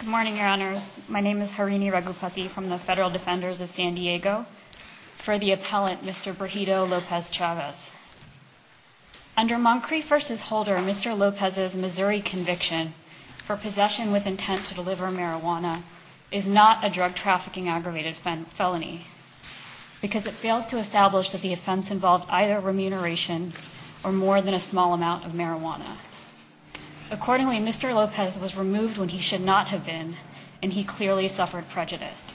Good morning, Your Honors. My name is Harini Raghupathy from the Federal Defenders of San Diego, for the appellant Mr. Brigido Lopez-Chavez. Under Moncrieff v. Holder, Mr. Lopez's Missouri conviction for possession with intent to deliver marijuana is not a drug trafficking aggravated felony because it fails to establish that the offense involved either remuneration or more than a small amount of marijuana. Accordingly, Mr. Lopez was removed when he should not have been, and he clearly suffered prejudice.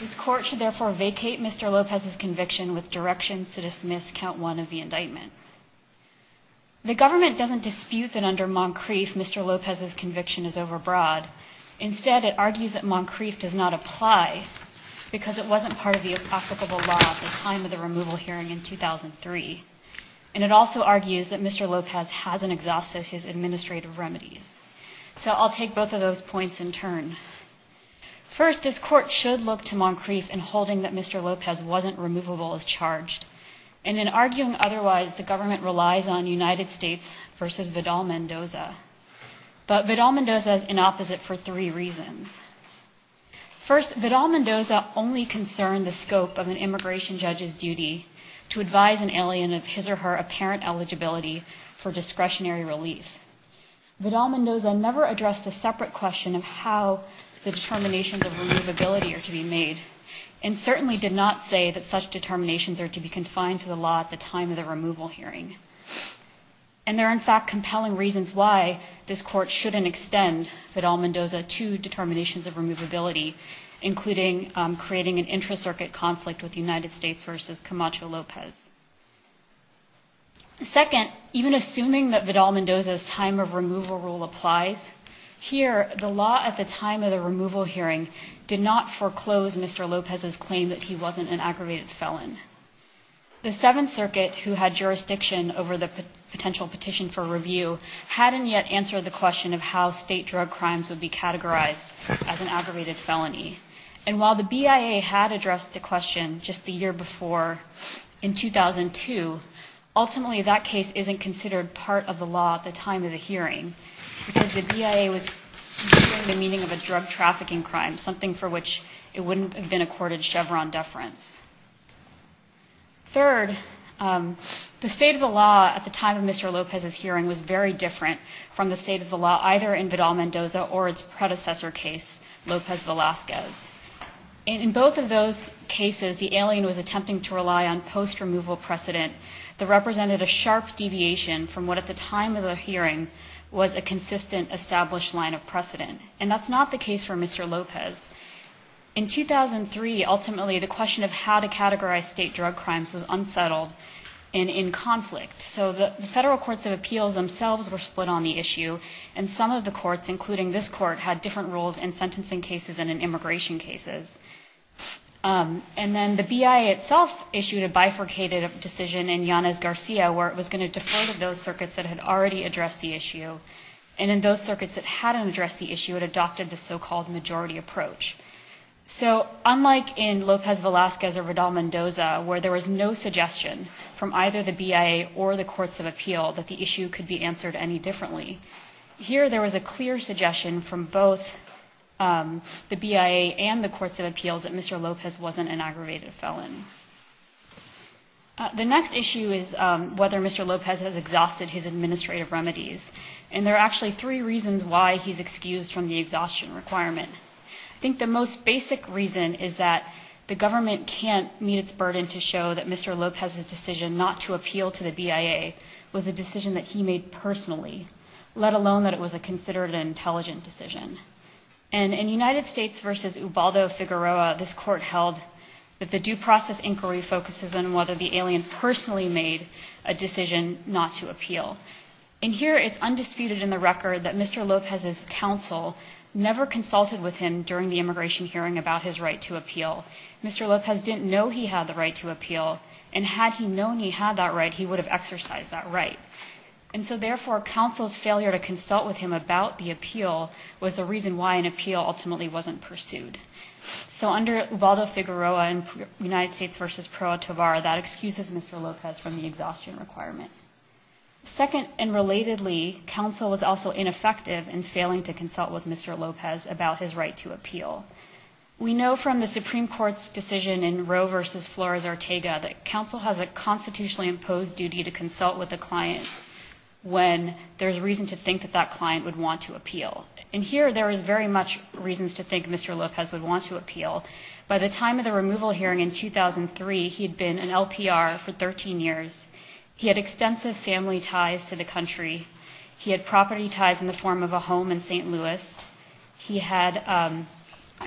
This Court should therefore vacate Mr. Lopez's conviction with directions to dismiss Count 1 of the indictment. The government doesn't dispute that under Moncrieff, Mr. Lopez's conviction is overbroad. Instead, it argues that Moncrieff does not apply because it wasn't part of the applicable law at the time of the removal hearing in 2003. And it also argues that Mr. Lopez hasn't exhausted his administrative remedies. So I'll take both of those points in turn. First, this Court should look to Moncrieff in holding that Mr. Lopez wasn't removable as charged. And in arguing otherwise, the government relies on United States v. Vidal-Mendoza. But Vidal-Mendoza is inopposite for three reasons. First, Vidal-Mendoza only concerned the scope of an immigration judge's duty to advise an alien of his or her apparent eligibility for discretionary relief. Vidal-Mendoza never addressed the separate question of how the determinations of removability are to be made, and certainly did not say that such determinations are to be confined to the law at the time of the removal hearing. And there are, in fact, compelling reasons why this Court shouldn't extend Vidal-Mendoza to determinations of removability, including creating an intra-circuit conflict with United States v. Camacho-Lopez. Second, even assuming that Vidal-Mendoza's time of removal rule applies, here the law at the time of the removal hearing did not foreclose Mr. Lopez's claim that he wasn't an aggravated felon. The Seventh Circuit, who had jurisdiction over the potential petition for review, hadn't yet answered the question of how state drug crimes would be categorized as an aggravated felony. And while the BIA had addressed the question just the year before, in 2002, ultimately that case isn't considered part of the law at the time of the hearing, because the BIA was considering the meaning of a drug trafficking crime, something for which it wouldn't have been accorded Chevron deference. Third, the state of the law at the time of Mr. Lopez's hearing was very different from the state of the law either in Vidal-Mendoza or its predecessor case, Lopez-Velasquez. In both of those cases, the alien was attempting to rely on post-removal precedent that represented a sharp deviation from what at the time of the hearing was a consistent established line of precedent. And that's not the case for Mr. Lopez. In 2003, ultimately, the question of how to categorize state drug crimes was unsettled and in conflict. So the federal courts of appeals themselves were split on the issue, and some of the courts, including this court, had different rules in sentencing cases and in immigration cases. And then the BIA itself issued a bifurcated decision in Yanez-Garcia, where it was going to defer to those circuits that had already addressed the issue. And in those circuits that hadn't addressed the issue, it adopted the so-called majority approach. So unlike in Lopez-Velasquez or Vidal-Mendoza, where there was no suggestion from either the BIA or the courts of appeal that the issue could be answered any differently, here there was a clear suggestion from both the BIA and the courts of appeals that Mr. Lopez wasn't an aggravated felon. The next issue is whether Mr. Lopez has exhausted his administrative remedies. And there are actually three reasons why he's excused from the exhaustion requirement. I think the most basic reason is that the government can't meet its burden to show that Mr. Lopez's decision not to appeal to the BIA was a decision that he made personally, let alone that it was a considered an intelligent decision. And in United States v. Ubaldo Figueroa, this court held that the due process inquiry focuses on whether the alien personally made a decision not to appeal. And here it's undisputed in the record that Mr. Lopez's counsel never consulted with him during the immigration hearing about his right to appeal. Mr. Lopez didn't know he had the right to appeal, and had he known he had that right, he would have exercised that right. And so therefore, counsel's failure to consult with him about the appeal was the reason why an appeal ultimately wasn't pursued. So under Ubaldo Figueroa in United States v. Pro Atovar, that excuses Mr. Lopez from the exhaustion requirement. Second, and relatedly, counsel was also ineffective in failing to consult with Mr. Lopez about his right to appeal. We know from the Supreme Court's decision in Roe v. Flores-Ortega that counsel has a constitutionally imposed duty to consult with a client when there's reason to think that that client would want to appeal. And here there is very much reasons to think Mr. Lopez would want to appeal. By the time of the removal hearing in 2003, he had been an LPR for 13 years. He had extensive family ties to the country. He had property ties in the form of a home in St. Louis. He had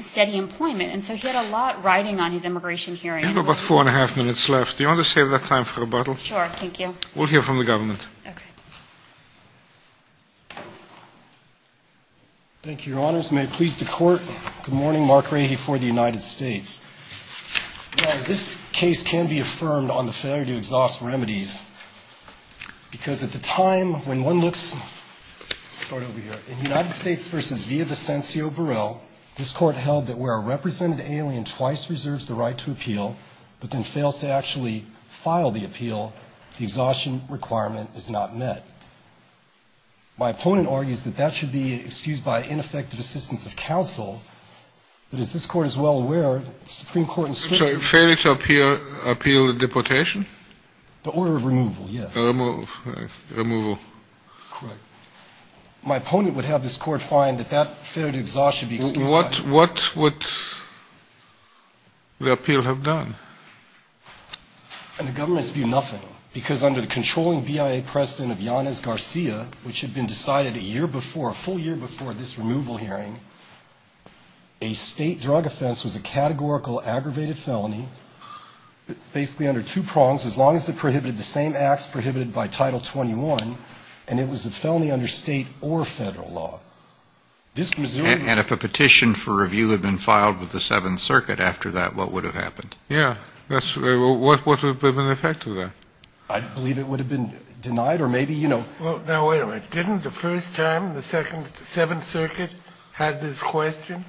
steady employment. And so he had a lot riding on his immigration hearing. You have about four and a half minutes left. Do you want to save that time for rebuttal? Sure. Thank you. We'll hear from the government. Okay. Thank you, Your Honors. May it please the Court. Good morning. Mark Rahe for the United States. Your Honor, this case can be affirmed on the failure to exhaust remedies because at the time when one looks Let's start over here. In United States v. Villavicencio Burrell, this Court held that where a represented alien twice reserves the right to appeal but then fails to actually file the appeal, the exhaustion requirement is not met. My opponent argues that that should be excused by ineffective assistance of counsel. But as this Court is well aware, the Supreme Court in Switzerland I'm sorry. Failure to appeal the deportation? The order of removal, yes. The removal. Correct. My opponent would have this Court find that that failure to exhaust should be excused by What would the appeal have done? And the government has viewed nothing because under the controlling BIA precedent of Yanez Garcia, which had been decided a year before, a full year before this removal hearing, a state drug offense was a categorical aggravated felony, basically under two prongs, as long as it prohibited the same acts prohibited by Title 21, and it was a felony under state or Federal law. And if a petition for review had been filed with the Seventh Circuit after that, what would have happened? Yes. What would have been the effect of that? I believe it would have been denied or maybe, you know. Now, wait a minute. Didn't the first time the Seventh Circuit had this question,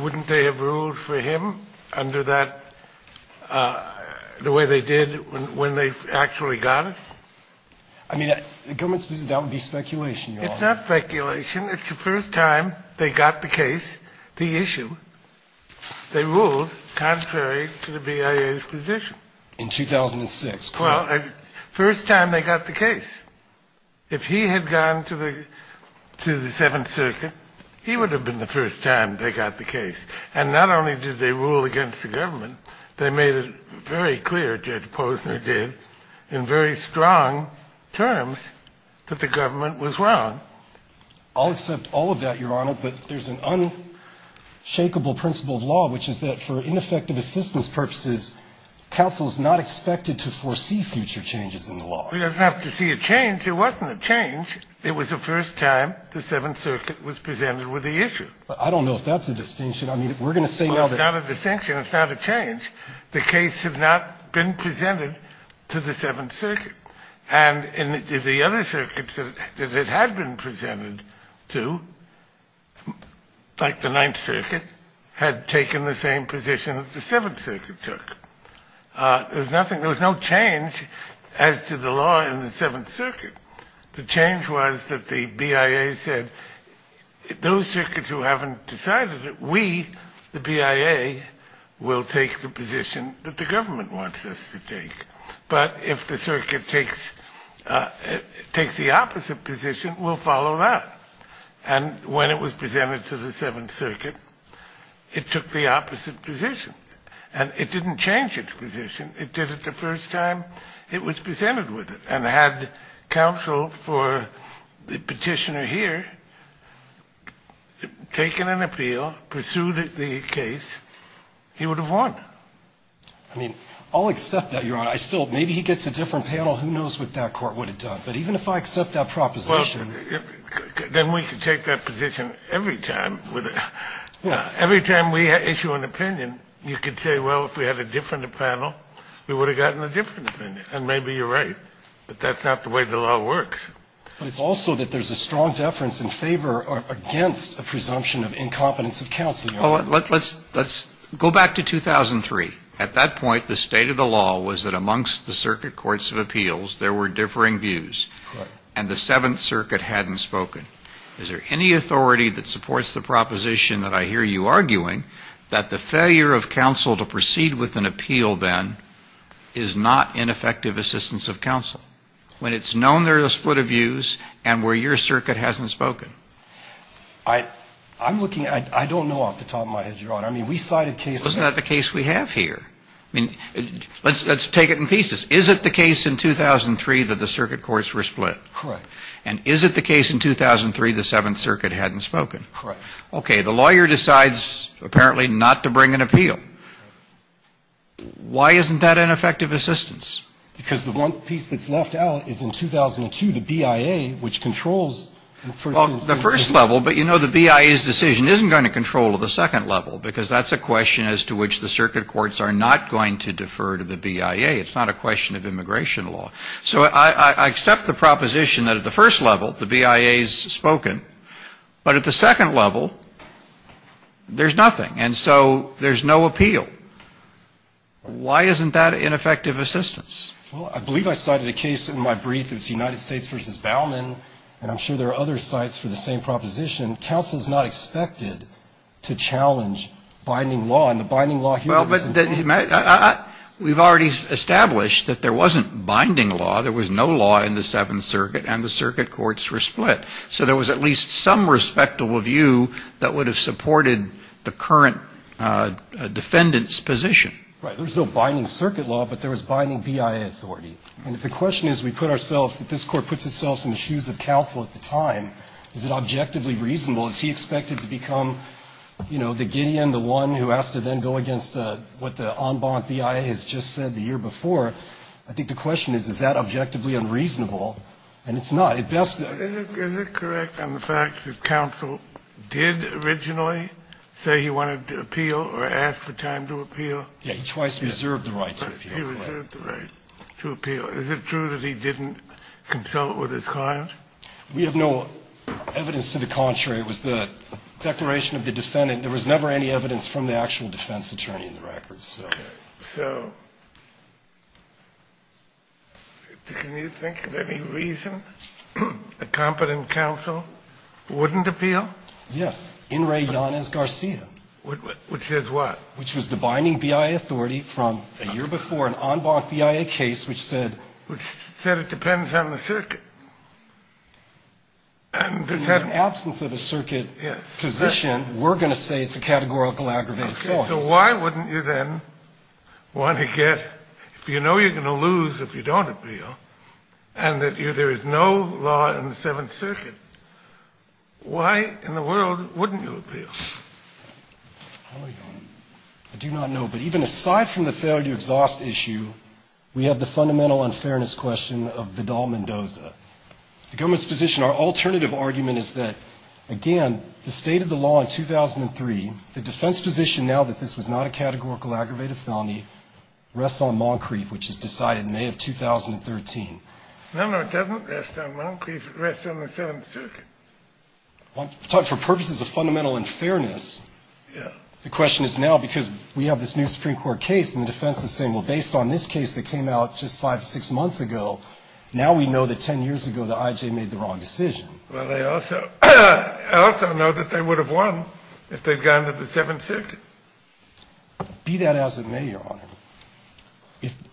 wouldn't they have ruled for him under that the way they did when they actually got it? I mean, the government's position, that would be speculation, Your Honor. It's not speculation. It's the first time they got the case, the issue. They ruled contrary to the BIA's position. In 2006. Well, first time they got the case. If he had gone to the Seventh Circuit, he would have been the first time they got the case. And not only did they rule against the government, they made it very clear, Judge Posner did, in very strong terms, that the government was wrong. I'll accept all of that, Your Honor, but there's an unshakeable principle of law, which is that for ineffective assistance purposes, counsel is not expected to foresee future changes in the law. He doesn't have to see a change. It wasn't a change. It was the first time the Seventh Circuit was presented with the issue. Well, I don't know if that's a distinction. I mean, we're going to say now that. Well, it's not a distinction. It's not a change. The case had not been presented to the Seventh Circuit. And the other circuits that it had been presented to, like the Ninth Circuit, had taken the same position that the Seventh Circuit took. There was no change as to the law in the Seventh Circuit. The change was that the BIA said, those circuits who haven't decided it, we, the BIA, will take the position that the government wants us to take. But if the circuit takes the opposite position, we'll follow that. And when it was presented to the Seventh Circuit, it took the opposite position. And it didn't change its position. It did it the first time it was presented with it. And had counsel for the Petitioner here taken an appeal, pursued the case, he would have won. I mean, I'll accept that, Your Honor. I still, maybe he gets a different panel. Who knows what that court would have done. But even if I accept that proposition. Well, then we could take that position every time. Every time we issue an opinion, you could say, well, if we had a different panel, we would have gotten a different opinion. And maybe you're right. But that's not the way the law works. But it's also that there's a strong deference in favor or against a presumption of incompetence of counsel, Your Honor. Well, let's go back to 2003. At that point, the state of the law was that amongst the circuit courts of appeals, there were differing views. Correct. And the Seventh Circuit hadn't spoken. Is there any authority that supports the proposition that I hear you arguing that the failure of counsel to proceed with an appeal then is not ineffective assistance of counsel? When it's known there's a split of views and where your circuit hasn't spoken? I'm looking, I don't know off the top of my head, Your Honor. I mean, we cited cases. Well, isn't that the case we have here? I mean, let's take it in pieces. Is it the case in 2003 that the circuit courts were split? Correct. And is it the case in 2003 the Seventh Circuit hadn't spoken? Correct. Okay. The lawyer decides apparently not to bring an appeal. Why isn't that ineffective assistance? Because the one piece that's left out is in 2002, the BIA, which controls the first instance. Well, the first level, but you know the BIA's decision isn't going to control the second level because that's a question as to which the circuit courts are not going to defer to the BIA. It's not a question of immigration law. So I accept the proposition that at the first level, the BIA's spoken. But at the second level, there's nothing. And so there's no appeal. Why isn't that ineffective assistance? Well, I believe I cited a case in my brief. It was the United States versus Bauman. And I'm sure there are other sites for the same proposition. Counsel is not expected to challenge binding law. And the binding law here is important. Well, but we've already established that there wasn't binding law. There was no law in the Seventh Circuit. And the circuit courts were split. So there was at least some respectable view that would have supported the current defendant's position. Right. There was no binding circuit law, but there was binding BIA authority. And if the question is we put ourselves, that this Court puts itself in the shoes of counsel at the time, is it objectively reasonable? Is he expected to become, you know, the Gideon, the one who has to then go against what the en banc BIA has just said the year before? I think the question is, is that objectively unreasonable? And it's not. Is it correct on the facts that counsel did originally say he wanted to appeal or ask for time to appeal? Yeah. He twice reserved the right to appeal. He reserved the right to appeal. Is it true that he didn't consult with his client? We have no evidence to the contrary. It was the declaration of the defendant. There was never any evidence from the actual defense attorney in the records. Okay. So can you think of any reason a competent counsel wouldn't appeal? Yes. In re Giannis Garcia. Which says what? Which was the binding BIA authority from a year before an en banc BIA case which said. Which said it depends on the circuit. In the absence of a circuit position, we're going to say it's a categorical aggravated offense. So why wouldn't you then want to get, if you know you're going to lose if you don't appeal, and that there is no law in the seventh circuit, why in the world wouldn't you appeal? I do not know. But even aside from the failure to exhaust issue, we have the fundamental unfairness question of Vidal-Mendoza. The government's position, our alternative argument is that, again, the state of the position now that this was not a categorical aggravated felony rests on Moncrief, which is decided in May of 2013. No, no, it doesn't rest on Moncrief. It rests on the seventh circuit. For purposes of fundamental unfairness. Yeah. The question is now, because we have this new Supreme Court case, and the defense is saying, well, based on this case that came out just five, six months ago, now we know that 10 years ago the I.J. made the wrong decision. Well, they also know that they would have won if they had gone to the seventh circuit. Be that as it may, Your Honor,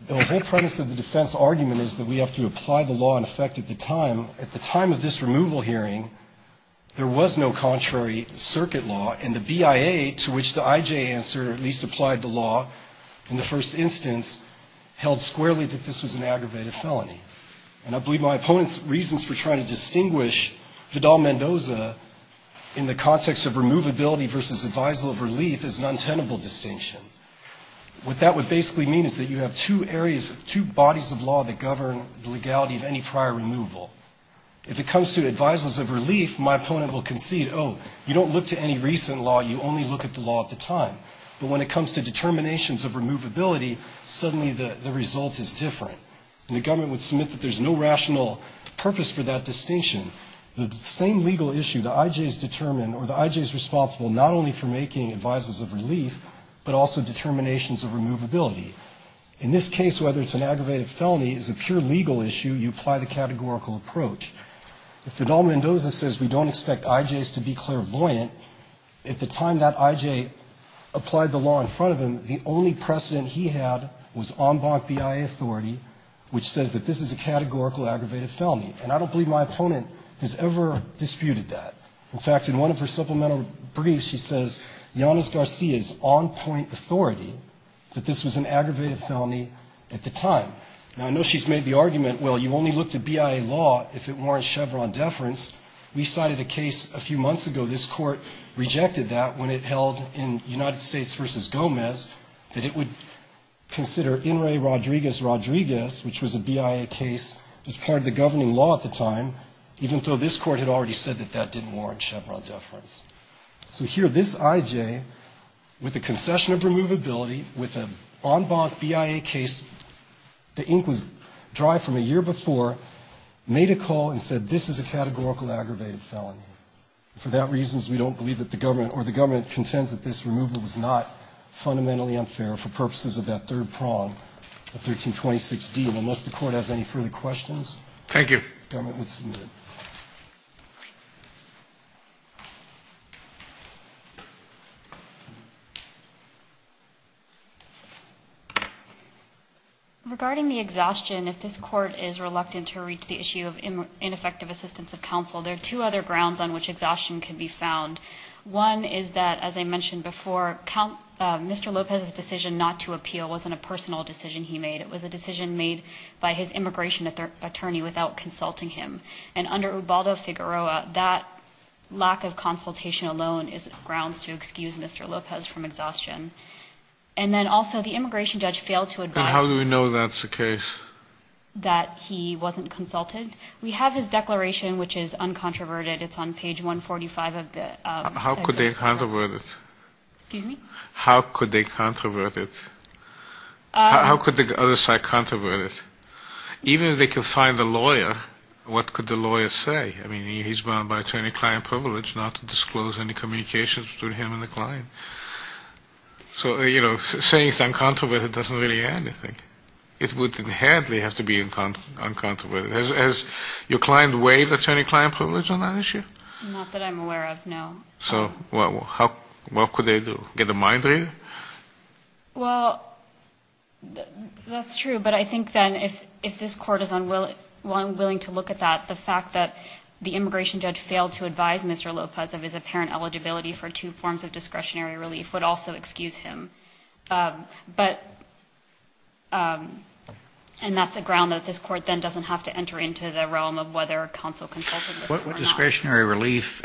the whole premise of the defense argument is that we have to apply the law in effect at the time. At the time of this removal hearing, there was no contrary circuit law, and the BIA, to which the I.J. answered, at least applied the law in the first instance, held squarely that this was an aggravated felony. And I believe my opponent's reasons for trying to distinguish Vidal-Mendoza in the context of removability versus advisal of relief is an untenable distinction. What that would basically mean is that you have two areas, two bodies of law that govern the legality of any prior removal. If it comes to advisals of relief, my opponent will concede, oh, you don't look to any recent law, you only look at the law at the time. But when it comes to determinations of removability, suddenly the result is different. And the government would submit that there's no rational purpose for that distinction. The same legal issue, the I.J.'s determine, or the I.J.'s responsible not only for making advisals of relief, but also determinations of removability. In this case, whether it's an aggravated felony is a pure legal issue, you apply the categorical approach. If Vidal-Mendoza says we don't expect I.J.'s to be clairvoyant, at the time that I.J. applied the law in front of him, the only precedent he had was en banc BIA authority, which says that this is a categorical aggravated felony. And I don't believe my opponent has ever disputed that. In fact, in one of her supplemental briefs, she says, Yanis Garcia's on-point authority that this was an aggravated felony at the time. Now, I know she's made the argument, well, you only look to BIA law if it warrants Chevron deference. We cited a case a few months ago, this Court rejected that when it held in United Rodriguez, which was a BIA case, as part of the governing law at the time, even though this Court had already said that that didn't warrant Chevron deference. So here, this I.J., with the concession of removability, with an en banc BIA case, the ink was dry from a year before, made a call and said this is a categorical aggravated felony. For that reason, we don't believe that the government, or the government contends that this removal was not fundamentally unfair for purposes of that third 1326 deal. Unless the Court has any further questions. Thank you. Government would submit. Regarding the exhaustion, if this Court is reluctant to reach the issue of ineffective assistance of counsel, there are two other grounds on which exhaustion can be found. One is that, as I mentioned before, Mr. Lopez's decision not to appeal wasn't a decision made. It was a decision made by his immigration attorney without consulting him. And under Ubaldo Figueroa, that lack of consultation alone is grounds to excuse Mr. Lopez from exhaustion. And then also, the immigration judge failed to advise. And how do we know that's the case? That he wasn't consulted. We have his declaration, which is uncontroverted. It's on page 145 of the exercise. How could they controvert it? Excuse me? How could they controvert it? How could the other side controvert it? Even if they could find a lawyer, what could the lawyer say? I mean, he's bound by attorney-client privilege not to disclose any communications between him and the client. So, you know, saying it's uncontroverted doesn't really add anything. It would inherently have to be uncontroverted. Has your client waived attorney-client privilege on that issue? Not that I'm aware of, no. So what could they do? Get a mind reader? Well, that's true. But I think then if this court is unwilling to look at that, the fact that the immigration judge failed to advise Mr. Lopez of his apparent eligibility for two forms of discretionary relief would also excuse him. But, and that's a ground that this court then doesn't have to enter into the realm of whether counsel consulted with him or not. What discretionary relief,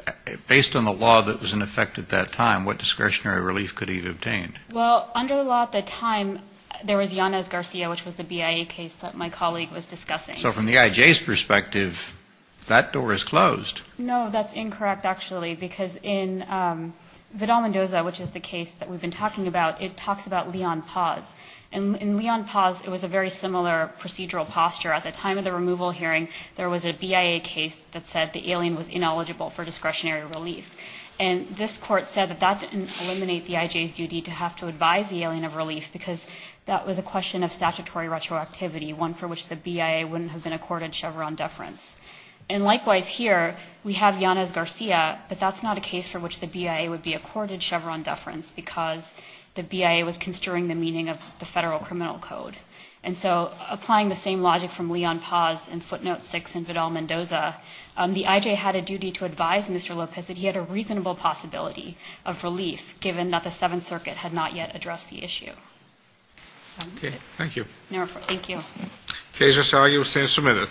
based on the law that was in effect at that time, what discretionary relief could he have obtained? Well, under the law at the time, there was Yanez-Garcia, which was the BIA case that my colleague was discussing. So from the IJ's perspective, that door is closed. No, that's incorrect, actually, because in Vidal-Mendoza, which is the case that we've been talking about, it talks about Leon Paz. And in Leon Paz, it was a very similar procedural posture. At the time of the removal hearing, there was a BIA case that said the alien was ineligible for discretionary relief. And this court said that that didn't eliminate the IJ's duty to have to advise the alien of relief, because that was a question of statutory retroactivity, one for which the BIA wouldn't have been accorded Chevron deference. And likewise here, we have Yanez-Garcia, but that's not a case for which the BIA would be accorded Chevron deference, because the BIA was construing the meaning of the federal criminal code. And so applying the same logic from Leon Paz in footnote 6 in Vidal-Mendoza, the IJ had a duty to advise Mr. Lopez that he had a reasonable possibility of relief, given that the Seventh Circuit had not yet addressed the issue. Okay. Thank you. Thank you. The case is argued and submitted.